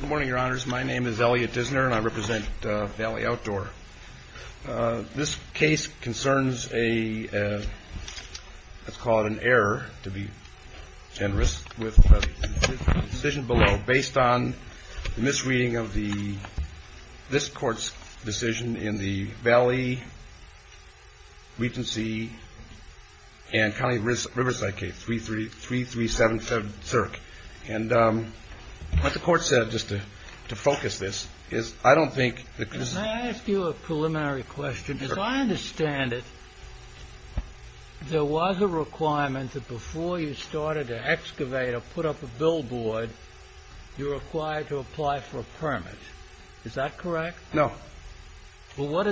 Good morning, your honors. My name is Elliot Dissner, and I represent Valley Outdoor. This case concerns a, let's call it an error, to be generous, with a decision below based on the misreading of this court's decision in the Valley Regency and County Riverside case, 3377 Zerk. And what the court said, just to focus this, is I don't think... May I ask you a preliminary question? Sure. As I understand it, there was a requirement that before you started to excavate or put up a billboard, you're required to apply for a permit. Is that correct? No. Well, what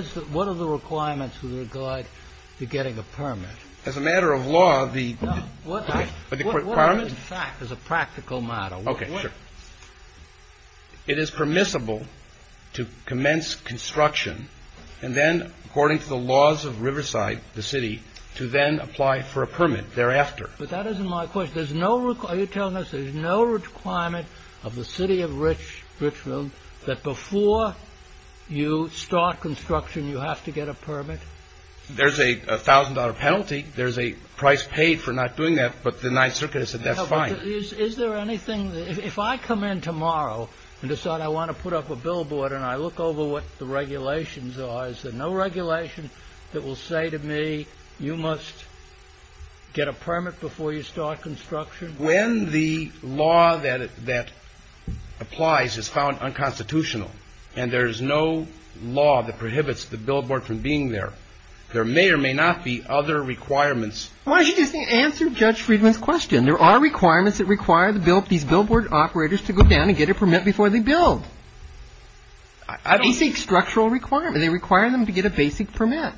are the requirements with regard to getting a permit? As a matter of law, the... No, what are they? The requirement? What are they, in fact, as a practical matter? Okay, sure. It is permissible to commence construction and then, according to the laws of Riverside, the city, to then apply for a permit thereafter. But that isn't my question. There's no... Are you telling us there's no requirement of the city of Richfield that before you start construction, you have to get a permit? There's a $1,000 penalty. There's a price paid for not doing that, but the Ninth Circuit has said that's fine. Is there anything... If I come in tomorrow and decide I want to put up a billboard and I look over what the regulations are, is there no regulation that will say to me, you must get a permit before you start construction? When the law that applies is found unconstitutional and there is no law that prohibits the billboard from being there, there may or may not be other requirements. Why don't you just answer Judge Friedman's question? There are requirements that require these billboard operators to go down and get a permit before they build. I don't... They seek structural requirements. They require them to get a basic permit.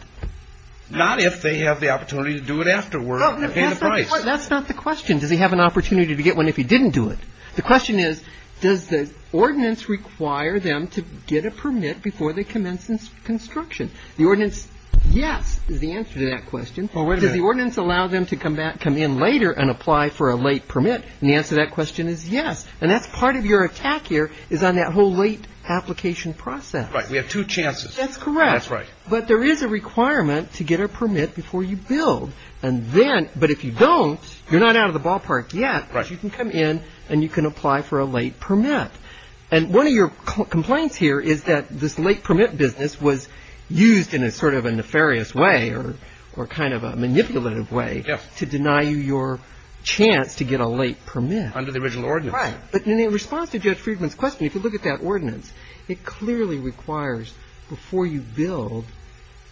Not if they have the opportunity to do it afterward and pay the price. That's not the question. Does he have an opportunity to get one if he didn't do it? The question is, does the ordinance require them to get a permit before they commence construction? The ordinance, yes, is the answer to that question. Does the ordinance allow them to come in later and apply for a late permit? And the answer to that question is yes. And that's part of your attack here is on that whole late application process. Right. We have two chances. That's correct. That's right. But there is a requirement to get a permit before you build. And then, but if you don't, you're not out of the ballpark yet. Right. You can come in and you can apply for a late permit. And one of your complaints here is that this late permit business was used in a sort of a nefarious way or kind of a manipulative way. Yes. To deny you your chance to get a late permit. Under the original ordinance. Right. But in response to Judge Friedman's question, if you look at that ordinance, it clearly requires before you build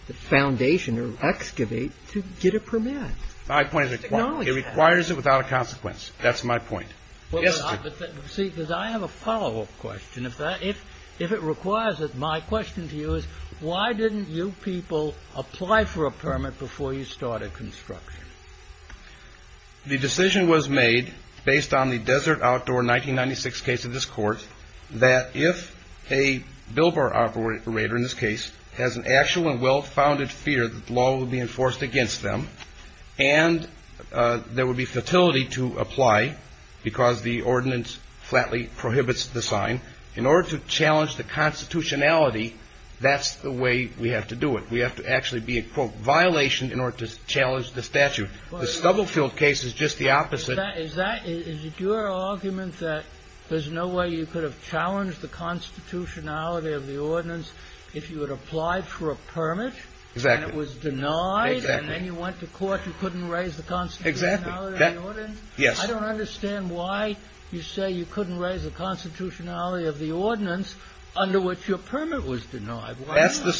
the foundation or excavate to get a permit. My point is it requires it without a consequence. That's my point. See, because I have a follow-up question. If it requires it, my question to you is why didn't you people apply for a permit before you started construction? The decision was made based on the Desert Outdoor 1996 case of this court that if a billboard operator, in this case, has an actual and well-founded fear that the law will be enforced against them, and there would be fertility to apply because the ordinance flatly prohibits the sign, in order to challenge the constitutionality, that's the way we have to do it. We have to actually be a, quote, violation in order to challenge the statute. The Scuttlefield case is just the opposite. Is that your argument that there's no way you could have challenged the constitutionality of the ordinance if you had applied for a permit? Exactly. And it was denied? Exactly. And then you went to court. You couldn't raise the constitutionality of the ordinance? Exactly. Yes. I don't understand why you say you couldn't raise the constitutionality of the ordinance under which your permit was denied. Thank you,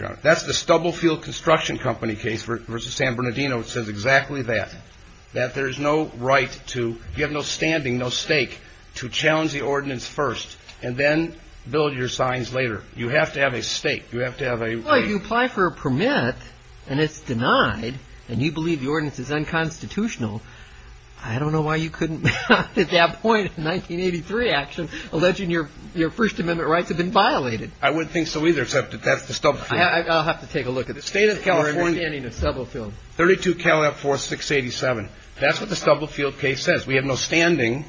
Your Honor. That's the Stubblefield Construction Company case versus San Bernardino. It says exactly that, that there's no right to – you have no standing, no stake to challenge the ordinance first and then build your signs later. You have to have a stake. You have to have a – Well, you apply for a permit, and it's denied, and you believe the ordinance is unconstitutional. I don't know why you couldn't at that point in 1983, actually, alleging your First Amendment rights had been violated. I wouldn't think so either, except that that's the Stubblefield case. I'll have to take a look at this. State of California – Your understanding of Stubblefield. 32 CALIF 4687. That's what the Stubblefield case says. We have no standing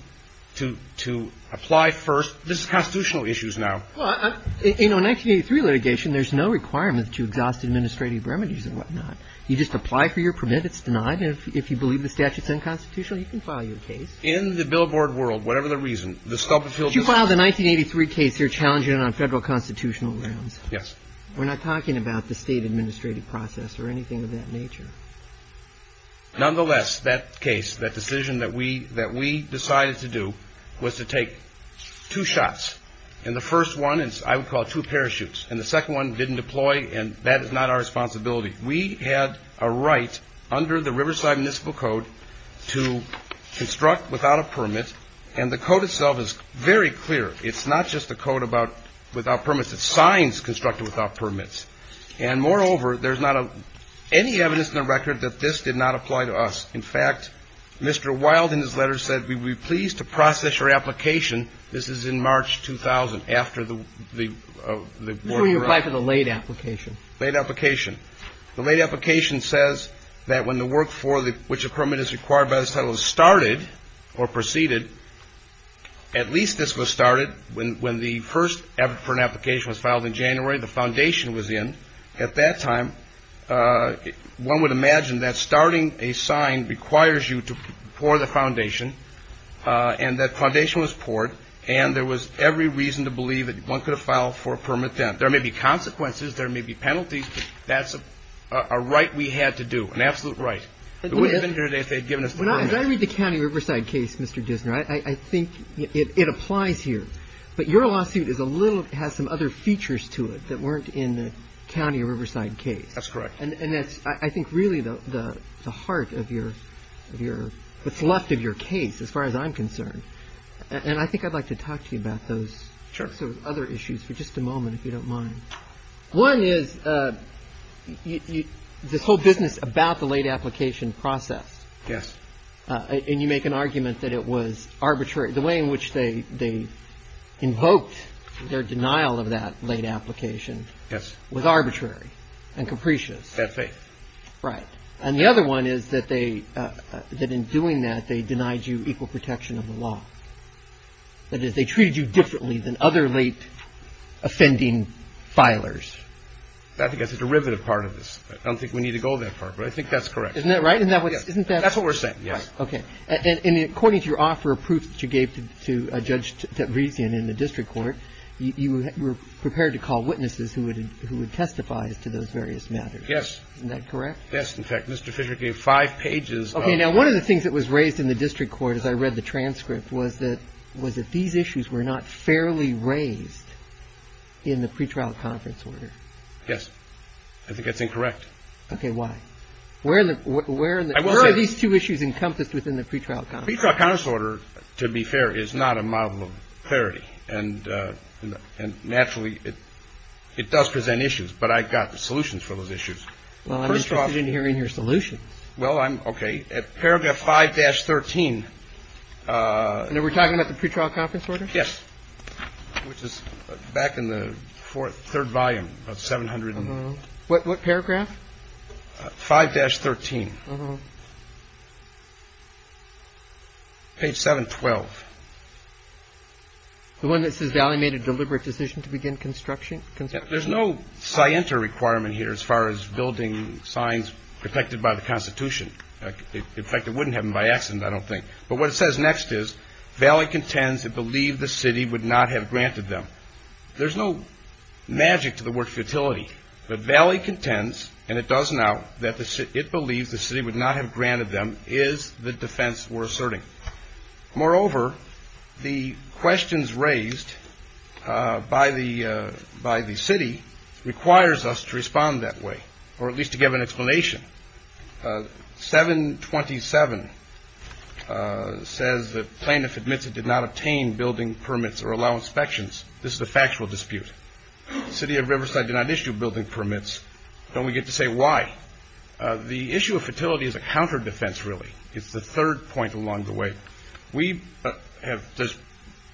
to apply first. This is constitutional issues now. Well, in a 1983 litigation, there's no requirement that you exhaust administrative remedies and whatnot. You just apply for your permit. It's denied. If you believe the statute's unconstitutional, you can file your case. In the billboard world, whatever the reason, the Stubblefield – You filed a 1983 case here challenging it on federal constitutional grounds. Yes. We're not talking about the state administrative process or anything of that nature. Nonetheless, that case, that decision that we decided to do was to take two shots. And the first one is – I would call it two parachutes. And the second one didn't deploy, and that is not our responsibility. We had a right under the Riverside Municipal Code to construct without a permit. And the code itself is very clear. It's not just a code about without permits. It's signs constructed without permits. And, moreover, there's not any evidence in the record that this did not apply to us. In fact, Mr. Wild in his letter said, we would be pleased to process your application. This is in March 2000, after the war broke out. Who are you applying for the late application? Late application. The late application says that when the work for which a permit is required by this title is started or proceeded, at least this was started when the first permit application was filed in January, the foundation was in. At that time, one would imagine that starting a sign requires you to pour the foundation, and that foundation was poured, and there was every reason to believe that one could have filed for a permit then. There may be consequences. There may be penalties. That's a right we had to do, an absolute right. We wouldn't have been here today if they had given us the permit. As I read the county Riverside case, Mr. Dissner, I think it applies here. But your lawsuit is a little – has some other features to it that weren't in the county Riverside case. That's correct. And that's, I think, really the heart of your – what's left of your case, as far as I'm concerned. And I think I'd like to talk to you about those. Sure. I guess there were other issues for just a moment, if you don't mind. One is this whole business about the late application process. Yes. And you make an argument that it was arbitrary. The way in which they invoked their denial of that late application was arbitrary and capricious. I had faith. Right. And the other one is that they – that in doing that, they denied you equal protection of the law. That is, they treated you differently than other late offending filers. I think that's a derivative part of this. I don't think we need to go that far, but I think that's correct. Isn't that right? Isn't that what's – isn't that – That's what we're saying, yes. Okay. And according to your offer of proof that you gave to Judge Tavrisian in the district court, you were prepared to call witnesses who would testify as to those various matters. Yes. Isn't that correct? Yes. In fact, Mr. Fisher gave five pages of – Okay. And what he said was that these issues were not fairly raised in the pretrial conference order. Yes. I think that's incorrect. Okay. Why? Where are the – where are these two issues encompassed within the pretrial conference order? The pretrial conference order, to be fair, is not a model of clarity. And naturally, it does present issues. But I've got solutions for those issues. Well, I'm interested in hearing your solutions. Well, I'm – okay. Paragraph 5-13. And we're talking about the pretrial conference order? Yes. Which is back in the third volume, about 700 and – What paragraph? 5-13. Page 712. The one that says, Valley made a deliberate decision to begin construction? There's no scienter requirement here as far as building signs protected by the Constitution. In fact, it wouldn't happen by accident, I don't think. But what it says next is, Valley contends it believed the city would not have granted them. There's no magic to the word futility. But Valley contends, and it does now, that it believes the city would not have granted them, is the defense we're asserting. Moreover, the questions raised by the city requires us to respond that way, or at least to give an explanation. 727 says that plaintiff admits it did not obtain building permits or allow inspections. This is a factual dispute. The city of Riverside did not issue building permits. Don't we get to say why? The issue of futility is a counterdefense, really. It's the third point along the way. We have – there's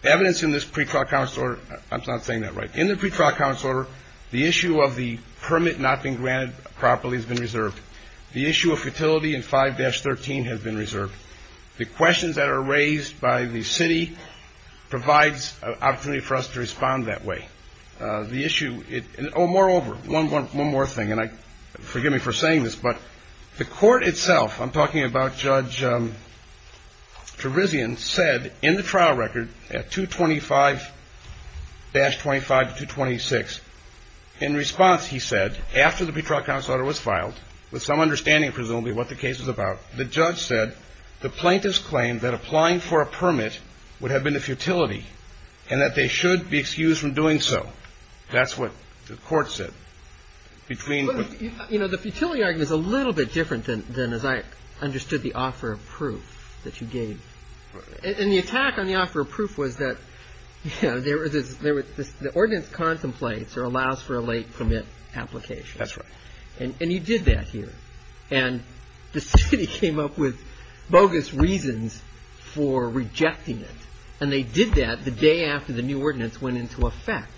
evidence in this pretrial conference order – I'm not saying that right. In the pretrial conference order, the issue of the permit not being granted properly has been reserved. The issue of futility in 5-13 has been reserved. The questions that are raised by the city provides an opportunity for us to respond that way. The issue – oh, moreover, one more thing, and forgive me for saying this, but the court itself – I'm talking about Judge Terizian – said in the trial record at 225-25 to 226, in response, he said, after the pretrial conference order was filed, with some understanding, presumably, what the case was about, the judge said the plaintiff's claim that applying for a permit would have been a futility and that they should be excused from doing so. That's what the court said. But, you know, the futility argument is a little bit different than as I understood the offer of proof that you gave. And the attack on the offer of proof was that, you know, there was this – the ordinance contemplates or allows for a late permit application. That's right. And you did that here. And the city came up with bogus reasons for rejecting it, and they did that the day after the new ordinance went into effect.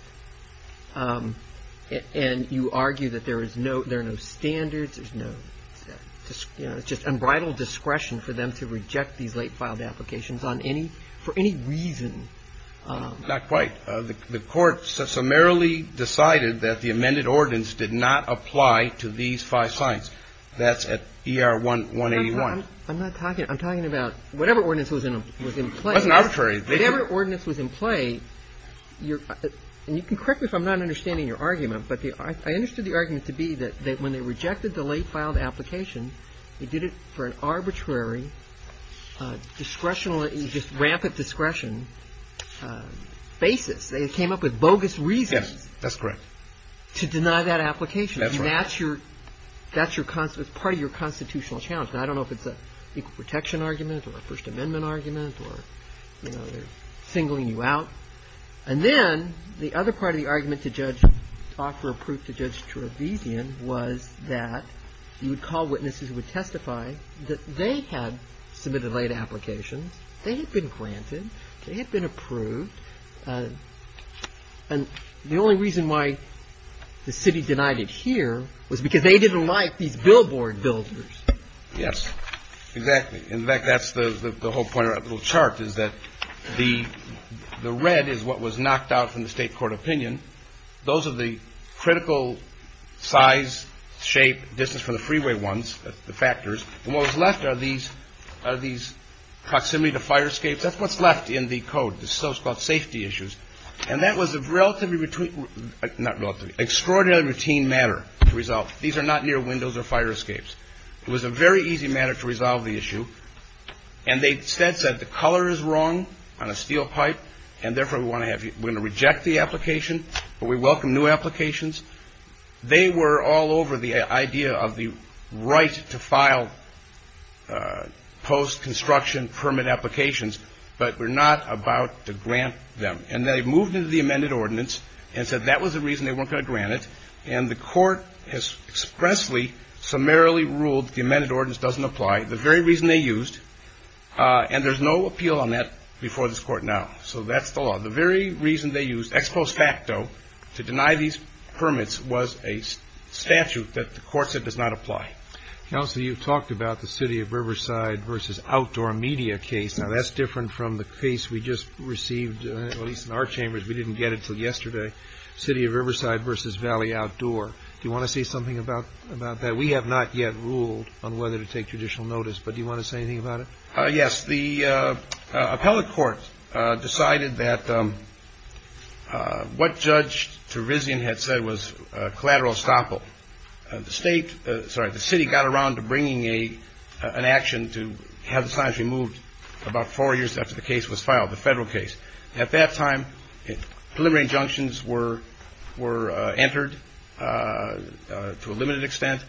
And you argue that there is no – there are no standards. There's no – you know, it's just unbridled discretion for them to reject these late-filed applications on any – for any reason. Not quite. The court summarily decided that the amended ordinance did not apply to these five sites. That's at ER 181. I'm not talking – I'm talking about whatever ordinance was in play. It wasn't arbitrary. Whatever ordinance was in play, you're – and you can correct me if I'm not understanding your argument, but I understood the argument to be that when they rejected the late-filed application, they did it for an arbitrary, discretionally – just rampant discretion basis. They came up with bogus reasons. Yes. That's correct. To deny that application. That's right. And that's your – that's your – it's part of your constitutional challenge. And I don't know if it's an equal protection argument or a First Amendment argument or, you know, they're singling you out. And then the other part of the argument to judge – offer a proof to Judge Trevisan was that you would call witnesses who would testify that they had submitted late applications. They had been granted. They had been approved. And the only reason why the city denied it here was because they didn't like these billboard builders. Yes. Exactly. In fact, that's the whole point of that little chart is that the – the red is what was knocked out from the state court opinion. Those are the critical size, shape, distance from the freeway ones, the factors. And what was left are these – are these proximity to fire escapes. That's what's left in the code. So it's called safety issues. And that was a relatively – not relatively – extraordinarily routine matter. These are not near windows or fire escapes. It was a very easy matter to resolve the issue. And they instead said the color is wrong on a steel pipe, and therefore we want to have you – we're going to reject the application, but we welcome new applications. They were all over the idea of the right to file post-construction permit applications, but we're not about to grant them. And they moved into the amended ordinance and said that was the reason they weren't going to grant it. And the court has expressly, summarily ruled the amended ordinance doesn't apply. The very reason they used – and there's no appeal on that before this court now. So that's the law. The very reason they used ex post facto to deny these permits was a statute that the court said does not apply. Counsel, you've talked about the city of Riverside versus outdoor media case. Now, that's different from the case we just received, at least in our chambers. We didn't get it until yesterday. City of Riverside versus Valley Outdoor. Do you want to say something about that? We have not yet ruled on whether to take judicial notice, but do you want to say anything about it? Yes. The appellate court decided that what Judge Turizian had said was collateral estoppel. The state – sorry, the city got around to bringing an action to have the signs removed about four years after the case was filed, the federal case. At that time, preliminary injunctions were entered to a limited extent.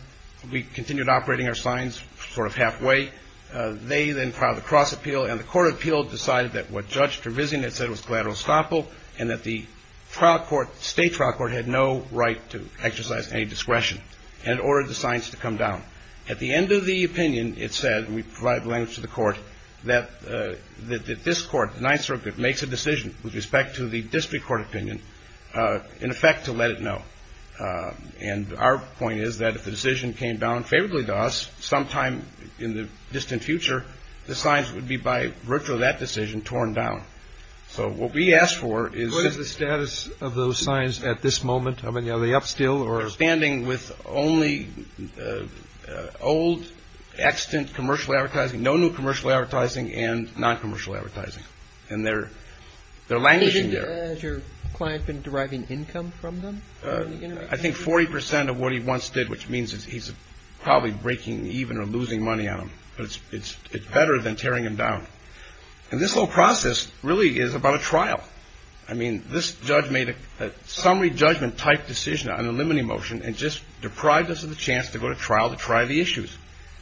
We continued operating our signs sort of halfway. They then filed a cross appeal, and the court of appeal decided that what Judge Turizian had said was collateral estoppel and that the trial court, state trial court, had no right to exercise any discretion and ordered the signs to come down. At the end of the opinion, it said, and we provided the language to the court, that this court, the Ninth Circuit, makes a decision with respect to the district court opinion, in effect, to let it know. And our point is that if the decision came down favorably to us sometime in the distant future, the signs would be by virtue of that decision torn down. So what we asked for is – What is the status of those signs at this moment? Are they up still? with only old, extant commercial advertising, no new commercial advertising, and non-commercial advertising. And they're languishing there. Has your client been deriving income from them? I think 40 percent of what he once did, which means he's probably breaking even or losing money on them. But it's better than tearing him down. And this whole process really is about a trial. I mean, this judge made a summary judgment-type decision on the limiting motion and just deprived us of the chance to go to trial to try the issues.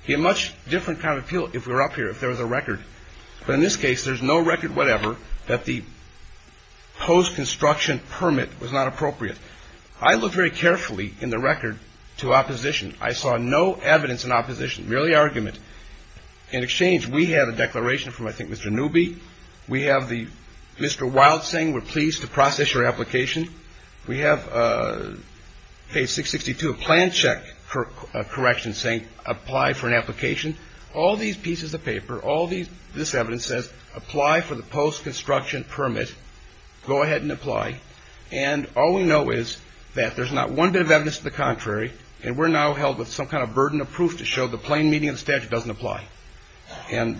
He had a much different kind of appeal if we were up here, if there was a record. But in this case, there's no record whatever that the post-construction permit was not appropriate. I looked very carefully in the record to opposition. I saw no evidence in opposition, merely argument. In exchange, we have a declaration from, I think, Mr. Newby. We have Mr. Wild saying we're pleased to process your application. We have page 662, a plan check correction saying apply for an application. All these pieces of paper, all this evidence says apply for the post-construction permit. Go ahead and apply. And all we know is that there's not one bit of evidence to the contrary, and we're now held with some kind of burden of proof to show the plain meaning of the statute doesn't apply. And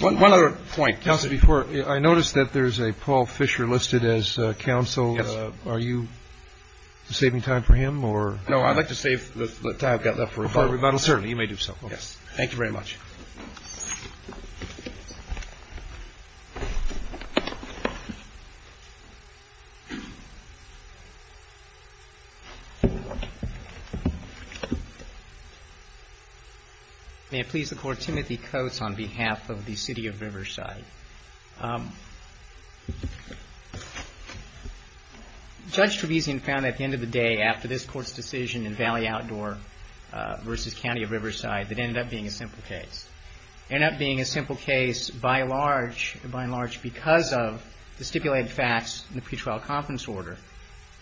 one other point, counsel, before you. I noticed that there's a Paul Fisher listed as counsel. Yes. Are you saving time for him or? No, I'd like to save the time I've got left for rebuttal. For rebuttal, certainly. Thank you very much. May it please the Court. Timothy Coates on behalf of the City of Riverside. Judge Trevesian found at the end of the day after this Court's decision in Valley Outdoor versus County of Riverside that it ended up being a simple case. It ended up being a simple case by and large because of the stipulated facts in the pretrial conference order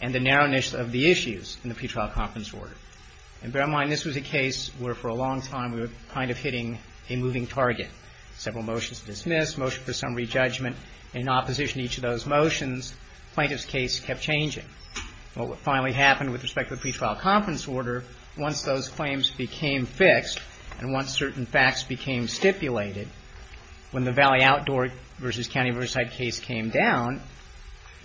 and the narrowness of the issues in the pretrial conference order. And bear in mind this was a case where for a long time we were kind of hitting a moving target. Several motions dismissed, motion for summary judgment in opposition to each of those motions. Plaintiff's case kept changing. What finally happened with respect to the pretrial conference order, once those claims became fixed and once certain facts became stipulated, when the Valley Outdoor versus County of Riverside case came down,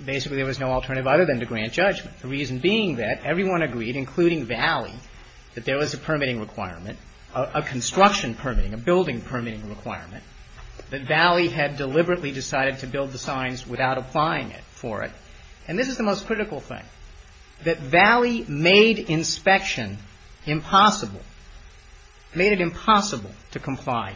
basically there was no alternative other than to grant judgment. The reason being that everyone agreed, including Valley, that there was a permitting requirement, a construction permitting, a building permitting requirement, that Valley had deliberately decided to build the signs without applying for it. And this is the most critical thing, that Valley made inspection impossible, made it impossible to comply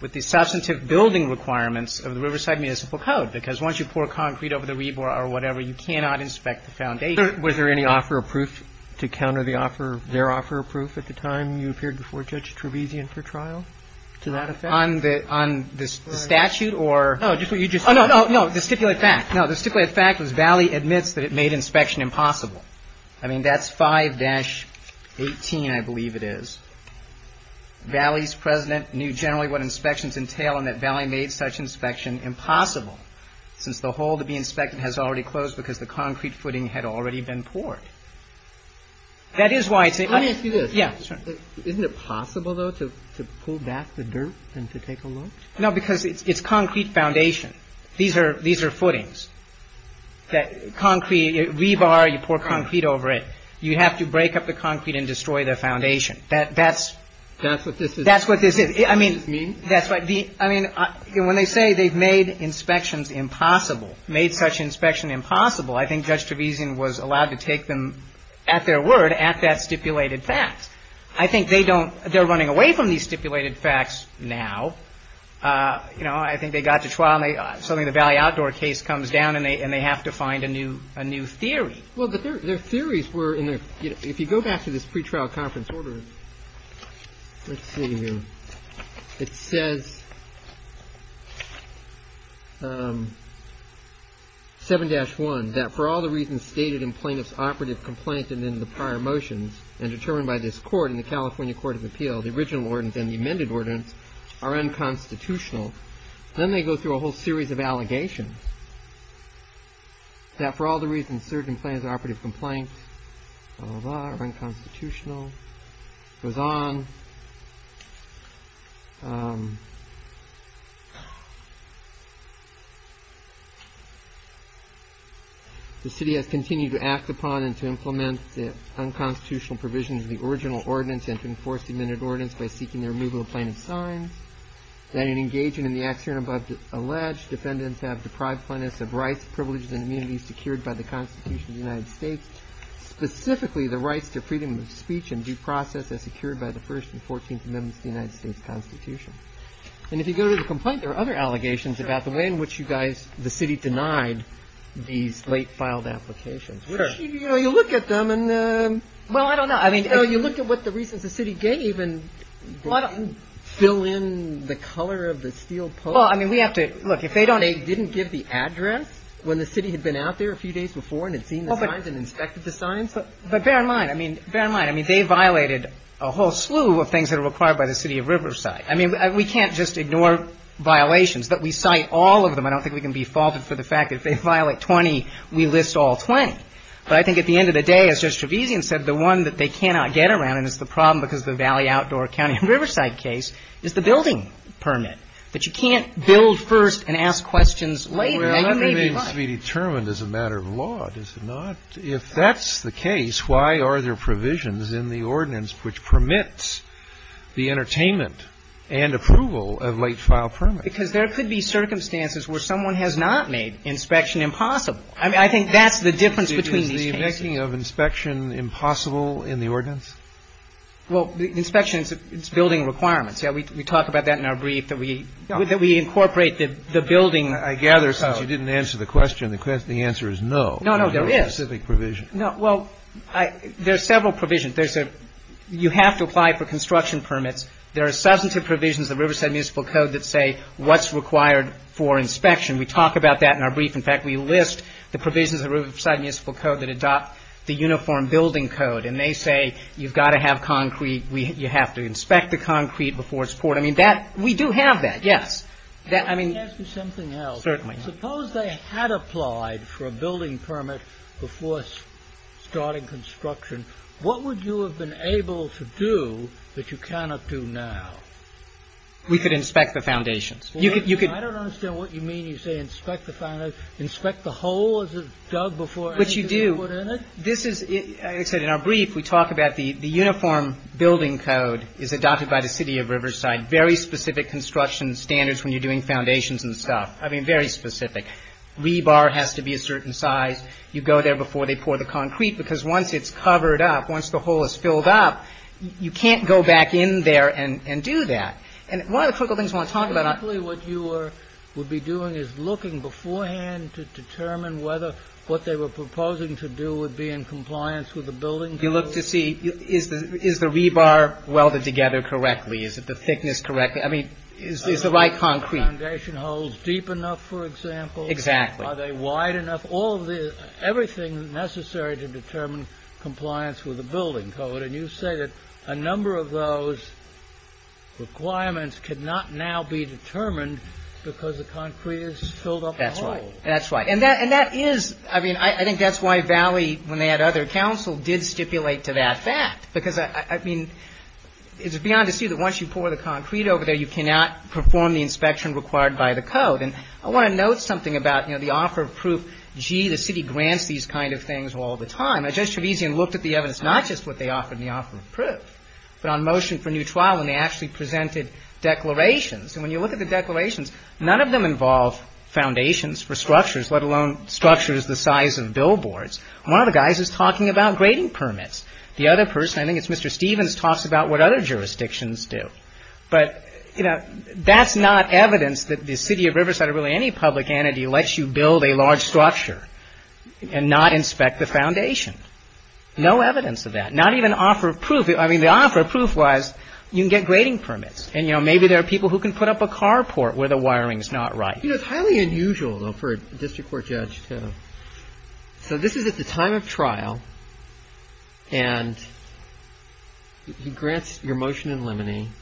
with the substantive building requirements of the Riverside Municipal Code because once you pour concrete over the rebar or whatever, you cannot inspect the foundation. Was there any offer of proof to counter the offer, their offer of proof at the time you appeared before Judge Trevesian for trial to that effect? On the statute or? No, just what you just said. No, no, no, the stipulated fact. No, the stipulated fact was Valley admits that it made inspection impossible. I mean, that's 5-18, I believe it is. Valley's president knew generally what inspections entail and that Valley made such inspection impossible since the hole to be inspected has already closed because the concrete footing had already been poured. That is why it's a. Let me ask you this. Yeah. No, because it's concrete foundation. These are footings that concrete, rebar, you pour concrete over it. You have to break up the concrete and destroy the foundation. That's. That's what this is. That's what this is. I mean. I mean, when they say they've made inspections impossible, made such inspection impossible, I think Judge Trevesian was allowed to take them at their word at that stipulated fact. I think they don't. They're running away from these stipulated facts now. You know, I think they got to trial. Suddenly the Valley Outdoor case comes down and they have to find a new theory. Well, their theories were in there. If you go back to this pretrial conference order, let's see here. It says 7-1 that for all the reasons stated in plaintiff's operative complaint and in the prior motions and determined by this court in the California Court of Appeal, the original ordinance and the amended ordinance are unconstitutional. Then they go through a whole series of allegations that for all the reasons certain plaintiff's operative complaint are unconstitutional. Goes on. The city has continued to act upon and to implement the unconstitutional provisions of the original ordinance and to enforce the amended ordinance by seeking the removal of plaintiff's signs. That in engaging in the acts here and above alleged, defendants have deprived plaintiffs of rights, privileges, and immunities secured by the Constitution of the United States, specifically the rights to freedom of speech and due process as secured by the First and Fourteenth Amendments of the United States Constitution. And if you go to the complaint, there are other allegations about the way in which you guys, the city denied these late filed applications. You know, you look at them and well, I don't know. I mean, you look at what the reasons the city gave and fill in the color of the steel pole. I mean, we have to look if they don't. They didn't give the address when the city had been out there a few days before and had seen the signs and inspected the signs. But bear in mind, I mean, bear in mind. I mean, they violated a whole slew of things that are required by the city of Riverside. I mean, we can't just ignore violations, that we cite all of them. I don't think we can be faulted for the fact that if they violate 20, we list all 20. But I think at the end of the day, as Judge Trevisan said, the one that they cannot get around, and it's the problem because of the Valley Outdoor County and Riverside case, is the building permit. But you can't build first and ask questions later. Now, you may be right. Well, that remains to be determined as a matter of law, does it not? If that's the case, why are there provisions in the ordinance which permits the entertainment and approval of late file permits? Because there could be circumstances where someone has not made inspection impossible. I mean, I think that's the difference between these cases. Is the making of inspection impossible in the ordinance? Well, inspection is building requirements. We talk about that in our brief, that we incorporate the building code. I gather since you didn't answer the question, the answer is no. No, no, there is. There are specific provisions. No. Well, there are several provisions. You have to apply for construction permits. There are substantive provisions of the Riverside Municipal Code that say what's required for inspection. We talk about that in our brief. In fact, we list the provisions of the Riverside Municipal Code that adopt the uniform building code. And they say you've got to have concrete. You have to inspect the concrete before it's poured. I mean, we do have that, yes. Let me ask you something else. Certainly. Suppose they had applied for a building permit before starting construction. What would you have been able to do that you cannot do now? We could inspect the foundations. I don't understand what you mean. You say inspect the foundations. Inspect the hole as it's dug before anything is put in it? This is, as I said in our brief, we talk about the uniform building code is adopted by the city of Riverside. Very specific construction standards when you're doing foundations and stuff. I mean, very specific. Rebar has to be a certain size. You go there before they pour the concrete, because once it's covered up, once the hole is filled up, you can't go back in there and do that. And one of the critical things I want to talk about on that. is looking beforehand to determine whether what they were proposing to do would be in compliance with the building code. You look to see is the rebar welded together correctly? Is it the thickness correct? I mean, is the right concrete? Are the foundation holes deep enough, for example? Exactly. Are they wide enough? Everything necessary to determine compliance with the building code. And you say that a number of those requirements cannot now be determined because the concrete is filled up the hole. That's right. And that is, I mean, I think that's why Valley, when they had other counsel, did stipulate to that fact. Because, I mean, it's beyond to see that once you pour the concrete over there, you cannot perform the inspection required by the code. And I want to note something about, you know, the offer of proof. Gee, the city grants these kind of things all the time. Judge Trevesian looked at the evidence, not just what they offered in the offer of proof, but on motion for new trial when they actually presented declarations. And when you look at the declarations, none of them involve foundations for structures, let alone structures the size of billboards. One of the guys is talking about grading permits. The other person, I think it's Mr. Stevens, talks about what other jurisdictions do. But, you know, that's not evidence that the city of Riverside or really any public entity lets you build a large structure and not inspect the foundation. No evidence of that. Not even offer of proof. I mean, the offer of proof was you can get grading permits. And, you know, maybe there are people who can put up a carport where the wiring is not right. You know, it's highly unusual, though, for a district court judge to. So this is at the time of trial. And he grants your motion in limine.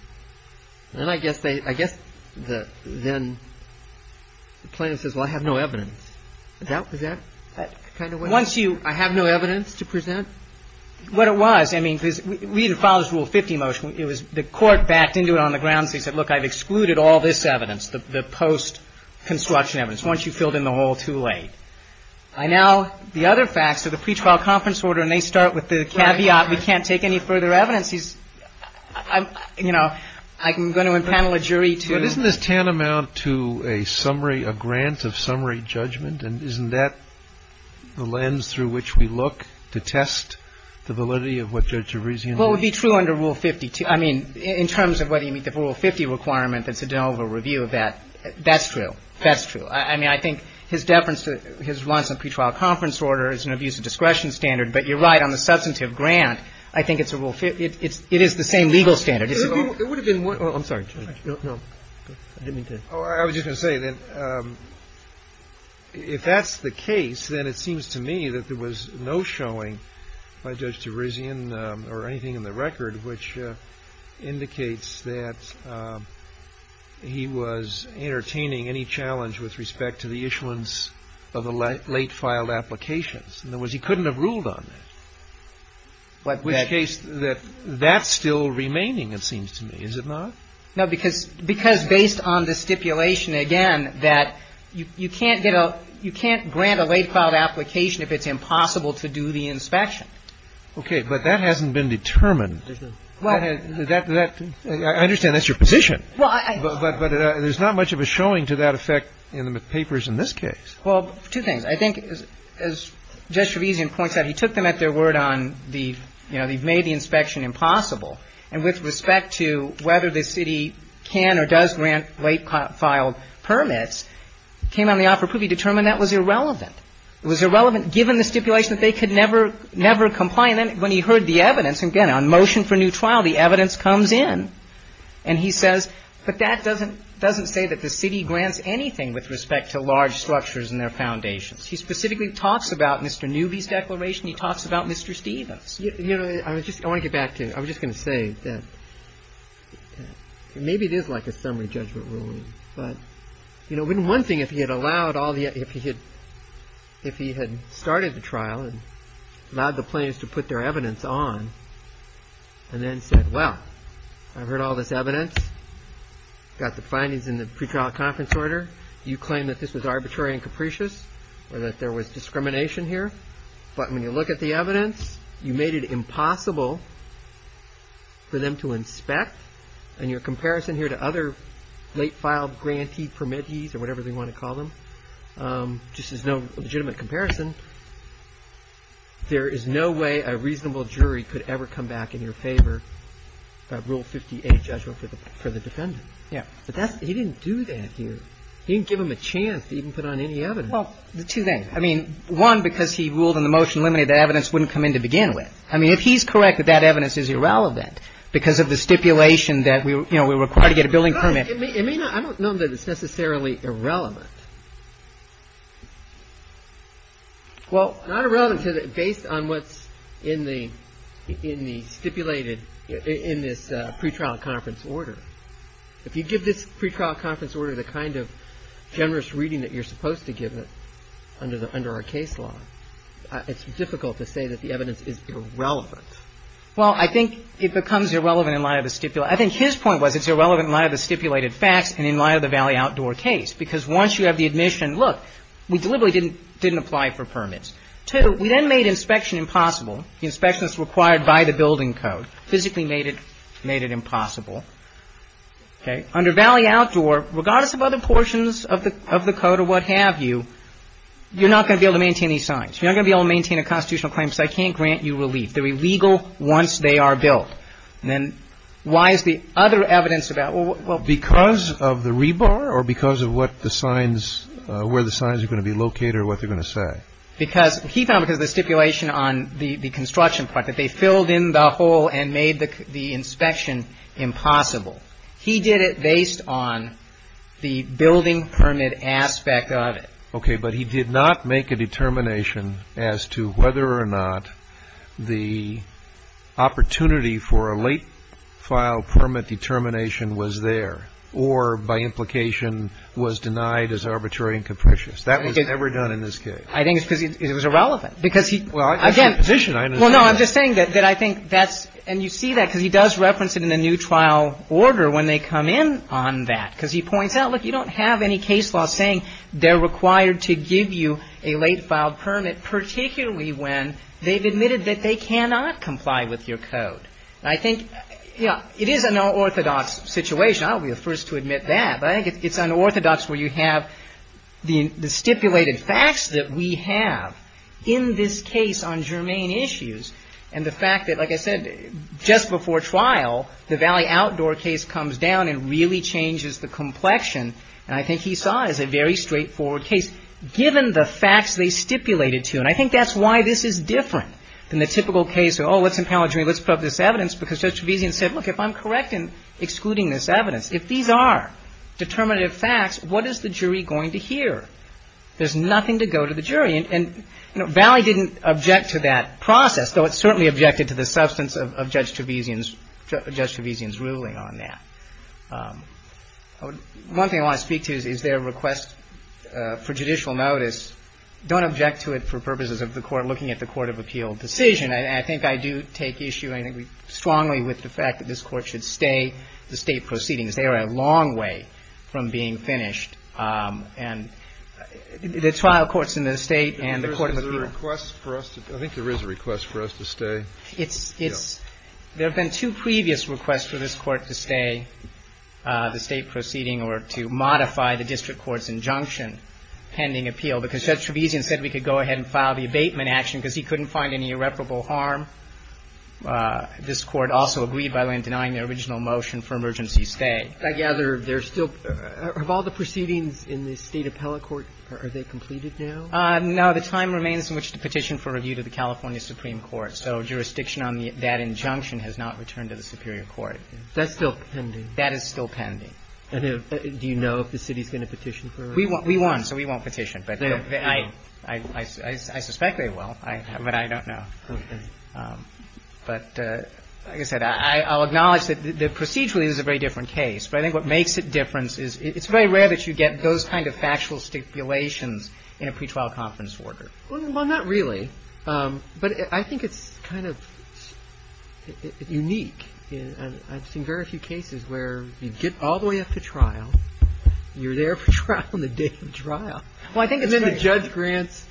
And I guess they I guess that then the plaintiff says, well, I have no evidence that that kind of once you I have no evidence to present what it was. I mean, we didn't follow this Rule 50 motion. It was the court backed into it on the ground. They said, look, I've excluded all this evidence, the post construction evidence. Once you filled in the hole too late. I now the other facts of the pretrial conference order, and they start with the caveat. We can't take any further evidence. He's you know, I'm going to impanel a jury to. Isn't this tantamount to a summary, a grant of summary judgment? And isn't that the lens through which we look to test the validity of what Judge Gervasean. Well, it would be true under Rule 52. I mean, in terms of whether you meet the Rule 50 requirement, that's a general review of that. That's true. That's true. I mean, I think his deference to his runs of pretrial conference order is an abuse of discretion standard. But you're right on the substantive grant. I think it's a rule. It is the same legal standard. It would have been. I'm sorry. No, I was just going to say that if that's the case, then it seems to me that there was no showing by Judge Gervasean or anything like that. And I'm not sure that that would have been the case. I mean, I think the issue is that there was no showing by Judge Gervasean. And I think that's the only thing in the record which indicates that he was entertaining any challenge with respect to the issuance of the late filed applications. And there was he couldn't have ruled on that. But in which case that that's still remaining. It seems to me, is it not? No, because because based on the stipulation, again, that you can't get a you can't grant a late filed application if it's impossible to do the inspection. OK, but that hasn't been determined. Well, that I understand that's your position. But there's not much of a showing to that effect in the papers in this case. Well, two things. I think as Judge Gervasean points out, he took them at their word on the you know, they've made the inspection impossible. And with respect to whether the city can or does grant late filed permits, came on the offer of proof. He determined that was irrelevant. It was irrelevant given the stipulation that they could never never comply. And then when he heard the evidence, again, on motion for new trial, the evidence comes in. And he says, but that doesn't doesn't say that the city grants anything with respect to large structures and their foundations. He specifically talks about Mr. Newby's declaration. He talks about Mr. Stevens. You know, I was just going to get back to I was just going to say that maybe it is like a summary judgment ruling. But, you know, one thing, if he had allowed all the if he had if he had started the trial and allowed the plaintiffs to put their evidence on. And then said, well, I've heard all this evidence, got the findings in the pretrial conference order. You claim that this was arbitrary and capricious or that there was discrimination here. But when you look at the evidence, you made it impossible for them to inspect. And your comparison here to other late filed grantee permittees or whatever they want to call them just is no legitimate comparison. There is no way a reasonable jury could ever come back in your favor. Rule 58 judgment for the for the defendant. Yeah. But he didn't do that here. He didn't give him a chance to even put on any evidence. Well, the two things. I mean, one, because he ruled in the motion limited that evidence wouldn't come in to begin with. I mean, if he's correct that that evidence is irrelevant because of the stipulation that we were required to get a billing permit. I mean, I don't know that it's necessarily irrelevant. Well, not irrelevant based on what's in the in the stipulated in this pretrial conference order. If you give this pretrial conference order the kind of generous reading that you're supposed to give it under the under our case law, it's difficult to say that the evidence is irrelevant. Well, I think it becomes irrelevant in light of the stipulation. I think his point was it's irrelevant in light of the stipulated facts and in light of the Valley Outdoor case. Because once you have the admission, look, we deliberately didn't didn't apply for permits. Two, we then made inspection impossible. The inspection is required by the building code. Physically made it made it impossible. Under Valley Outdoor, regardless of other portions of the of the code or what have you, you're not going to be able to maintain these signs. You're not going to be able to maintain a constitutional claim. So I can't grant you relief. They're illegal once they are built. And then why is the other evidence about. Because of the rebar or because of what the signs where the signs are going to be located or what they're going to say. Because he found because the stipulation on the construction part that they filled in the hole and made the inspection impossible. He did it based on the building permit aspect of it. OK, but he did not make a determination as to whether or not the opportunity for a late file permit determination was there or by implication was denied as arbitrary and capricious. That was never done in this case. I think it's because it was irrelevant because he. Well, again, I'm just saying that I think that's and you see that because he does reference it in a new trial order when they come in on that, because he points out, look, you don't have any case law saying they're required to give you a late filed permit, particularly when they've admitted that they cannot comply with your code. I think it is an orthodox situation. I'll be the first to admit that. I think it's unorthodox where you have the stipulated facts that we have in this case on germane issues. And the fact that, like I said, just before trial, the Valley Outdoor case comes down and really changes the complexion. And I think he saw it as a very straightforward case, given the facts they stipulated to. And I think that's why this is different than the typical case. Oh, let's impound. Let's put up this evidence because such vision said, look, if I'm correct and excluding this evidence, if these are determinative facts, what is the jury going to hear? There's nothing to go to the jury. And Valley didn't object to that process, though it certainly objected to the substance of Judge Trevesian's ruling on that. One thing I want to speak to is their request for judicial notice. Don't object to it for purposes of the court looking at the court of appeal decision. I think I do take issue strongly with the fact that this court should stay the state proceedings. They are a long way from being finished. And the trial courts in the state and the court of appeal request for us. I think there is a request for us to stay. It's it's. There have been two previous requests for this court to stay the state proceeding or to modify the district court's injunction pending appeal because Judge Trevesian said we could go ahead and file the abatement action because he couldn't find any irreparable harm. This court also agreed by way of denying the original motion for emergency stay. I gather they're still. Of all the proceedings in the state appellate court, are they completed now? No. The time remains in which to petition for review to the California Supreme Court. So jurisdiction on that injunction has not returned to the superior court. That's still pending. That is still pending. Do you know if the city is going to petition for review? We won't. We won't. So we won't petition. But I suspect they will. But I don't know. But like I said, I'll acknowledge that procedurally this is a very different case. But I think what makes it different is it's very rare that you get those kind of factual stipulations in a pretrial conference order. Well, not really. But I think it's kind of unique. I've seen very few cases where you get all the way up to trial. You're there for trial on the day of trial. And then the judge grants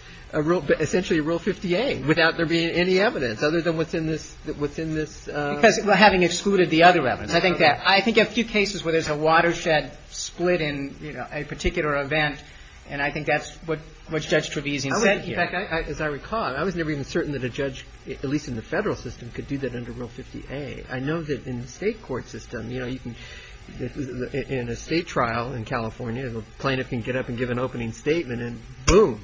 essentially Rule 50A without there being any evidence other than what's in this. Because having excluded the other evidence. I think a few cases where there's a watershed split in a particular event, and I think that's what Judge Trevisan said here. In fact, as I recall, I was never even certain that a judge, at least in the federal system, could do that under Rule 50A. I know that in the state court system, you know, in a state trial in California, the plaintiff can get up and give an opening statement and boom.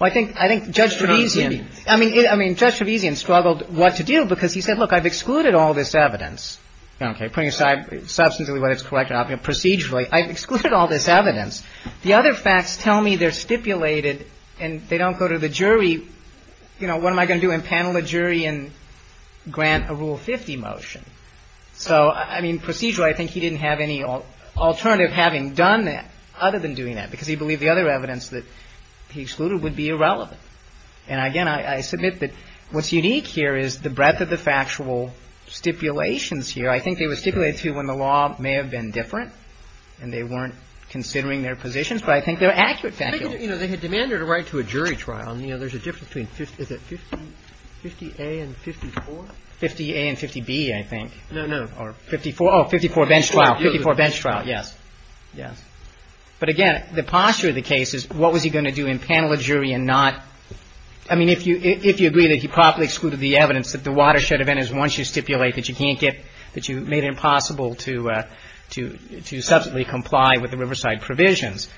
Well, I think Judge Trevisan. I mean, Judge Trevisan struggled what to do because he said, look, I've excluded all this evidence. Okay. Putting aside substantively what is correct and procedurally, I've excluded all this evidence. The other facts tell me they're stipulated and they don't go to the jury. You know, what am I going to do, impanel a jury and grant a Rule 50 motion? So, I mean, procedurally, I think he didn't have any alternative having done that other than doing that, because he believed the other evidence that he excluded would be irrelevant. And, again, I submit that what's unique here is the breadth of the factual stipulations here. I think they were stipulated to when the law may have been different and they weren't considering their positions, but I think they're accurate factually. You know, they had demanded a right to a jury trial, and, you know, there's a difference between 50A and 54. 50A and 50B, I think. No, no. Or 54. Oh, 54 bench trial. 54 bench trial. Yes. Yes. But, again, the posture of the case is what was he going to do, impanel a jury and not I mean, if you agree that he properly excluded the evidence, that the watershed event is once you stipulate that you can't get that you made it impossible to substantively comply with the Riverside provisions.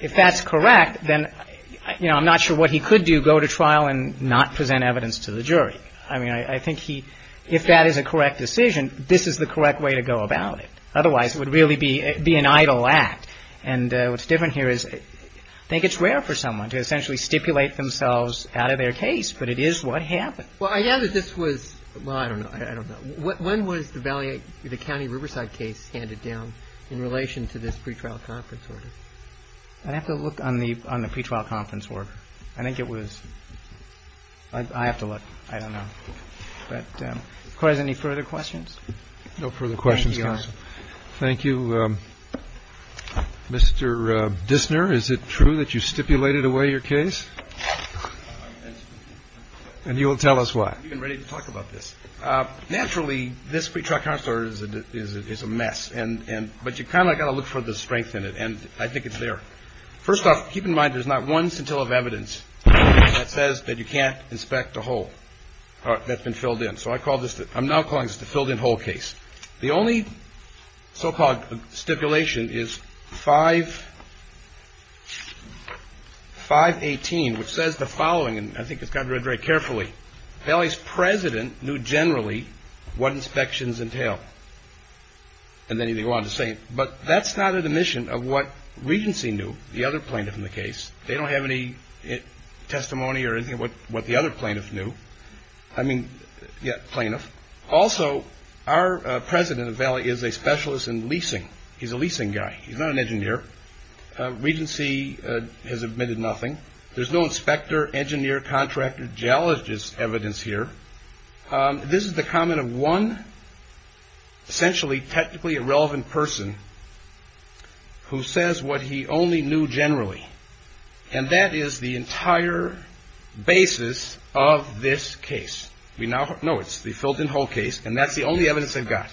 If that's correct, then, you know, I'm not sure what he could do, go to trial and not present evidence to the jury. I mean, I think he if that is a correct decision, this is the correct way to go about it. Otherwise, it would really be an idle act. And what's different here is I think it's rare for someone to essentially stipulate themselves out of their case, but it is what happened. Well, I know that this was well, I don't know. I don't know. When was the county Riverside case handed down in relation to this pretrial conference order? I'd have to look on the pretrial conference order. I think it was. I have to look. I don't know. But of course, any further questions? No further questions. Thank you. Mr. Dissner, is it true that you stipulated away your case? And you will tell us why. We've been ready to talk about this. Naturally, this pretrial conference order is a mess. And but you kind of got to look for the strength in it. And I think it's there. First off, keep in mind, there's not one scintilla of evidence that says that you can't inspect a hole that's been filled in. So I call this I'm now calling this the filled-in hole case. The only so-called stipulation is 518, which says the following, and I think it's got to be read very carefully. Valley's president knew generally what inspections entail. And then he wanted to say, but that's not an admission of what Regency knew. The other plaintiff in the case, they don't have any testimony or anything what the other plaintiff knew. I mean, yeah, plaintiff. Also, our president of Valley is a specialist in leasing. He's a leasing guy. He's not an engineer. Regency has admitted nothing. There's no inspector, engineer, contractor, geologist evidence here. This is the comment of one essentially technically irrelevant person who says what he only knew generally. And that is the entire basis of this case. We now know it's the filled-in hole case, and that's the only evidence they've got.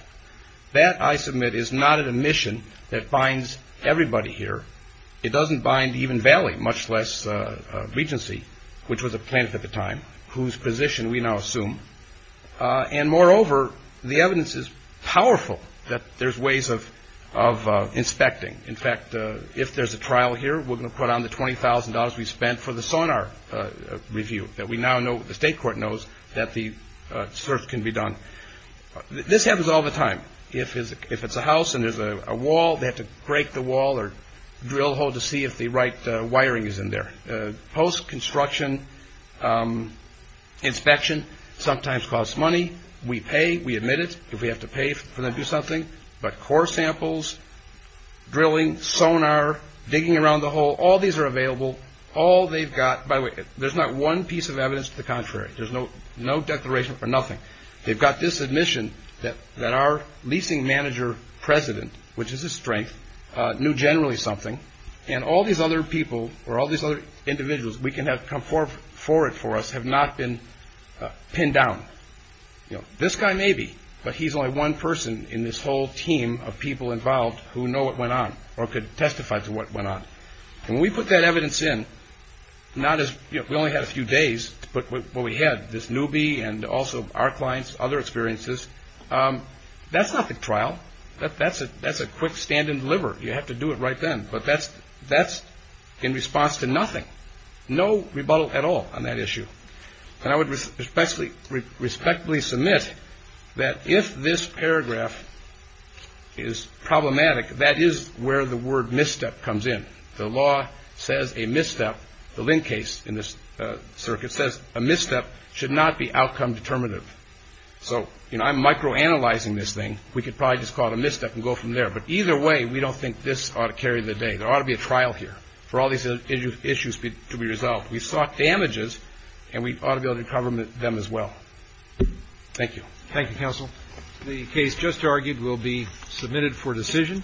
That, I submit, is not an admission that binds everybody here. It doesn't bind even Valley, much less Regency, which was a plaintiff at the time, whose position we now assume. And moreover, the evidence is powerful that there's ways of inspecting. In fact, if there's a trial here, we're going to put on the $20,000 we spent for the sonar review that we now know, the state court knows, that the search can be done. This happens all the time. If it's a house and there's a wall, they have to break the wall or drill a hole to see if the right wiring is in there. Post-construction inspection sometimes costs money. We pay. We admit it if we have to pay for them to do something. But core samples, drilling, sonar, digging around the hole, all these are available. All they've got – by the way, there's not one piece of evidence to the contrary. There's no declaration for nothing. They've got this admission that our leasing manager president, which is his strength, knew generally something, and all these other people or all these other individuals we can have come forward for us have not been pinned down. This guy maybe, but he's only one person in this whole team of people involved who know what went on or could testify to what went on. When we put that evidence in, not as – we only had a few days, but what we had, this newbie and also our clients, other experiences, that's not the trial. That's a quick stand and deliver. You have to do it right then. But that's in response to nothing. No rebuttal at all on that issue. And I would respectfully submit that if this paragraph is problematic, that is where the word misstep comes in. The law says a misstep – the Lindt case in this circuit says a misstep should not be outcome determinative. So, you know, I'm microanalyzing this thing. We could probably just call it a misstep and go from there. But either way, we don't think this ought to carry the day. There ought to be a trial here for all these issues to be resolved. We sought damages, and we ought to be able to cover them as well. Thank you. Thank you, counsel. The case just argued will be submitted for decision.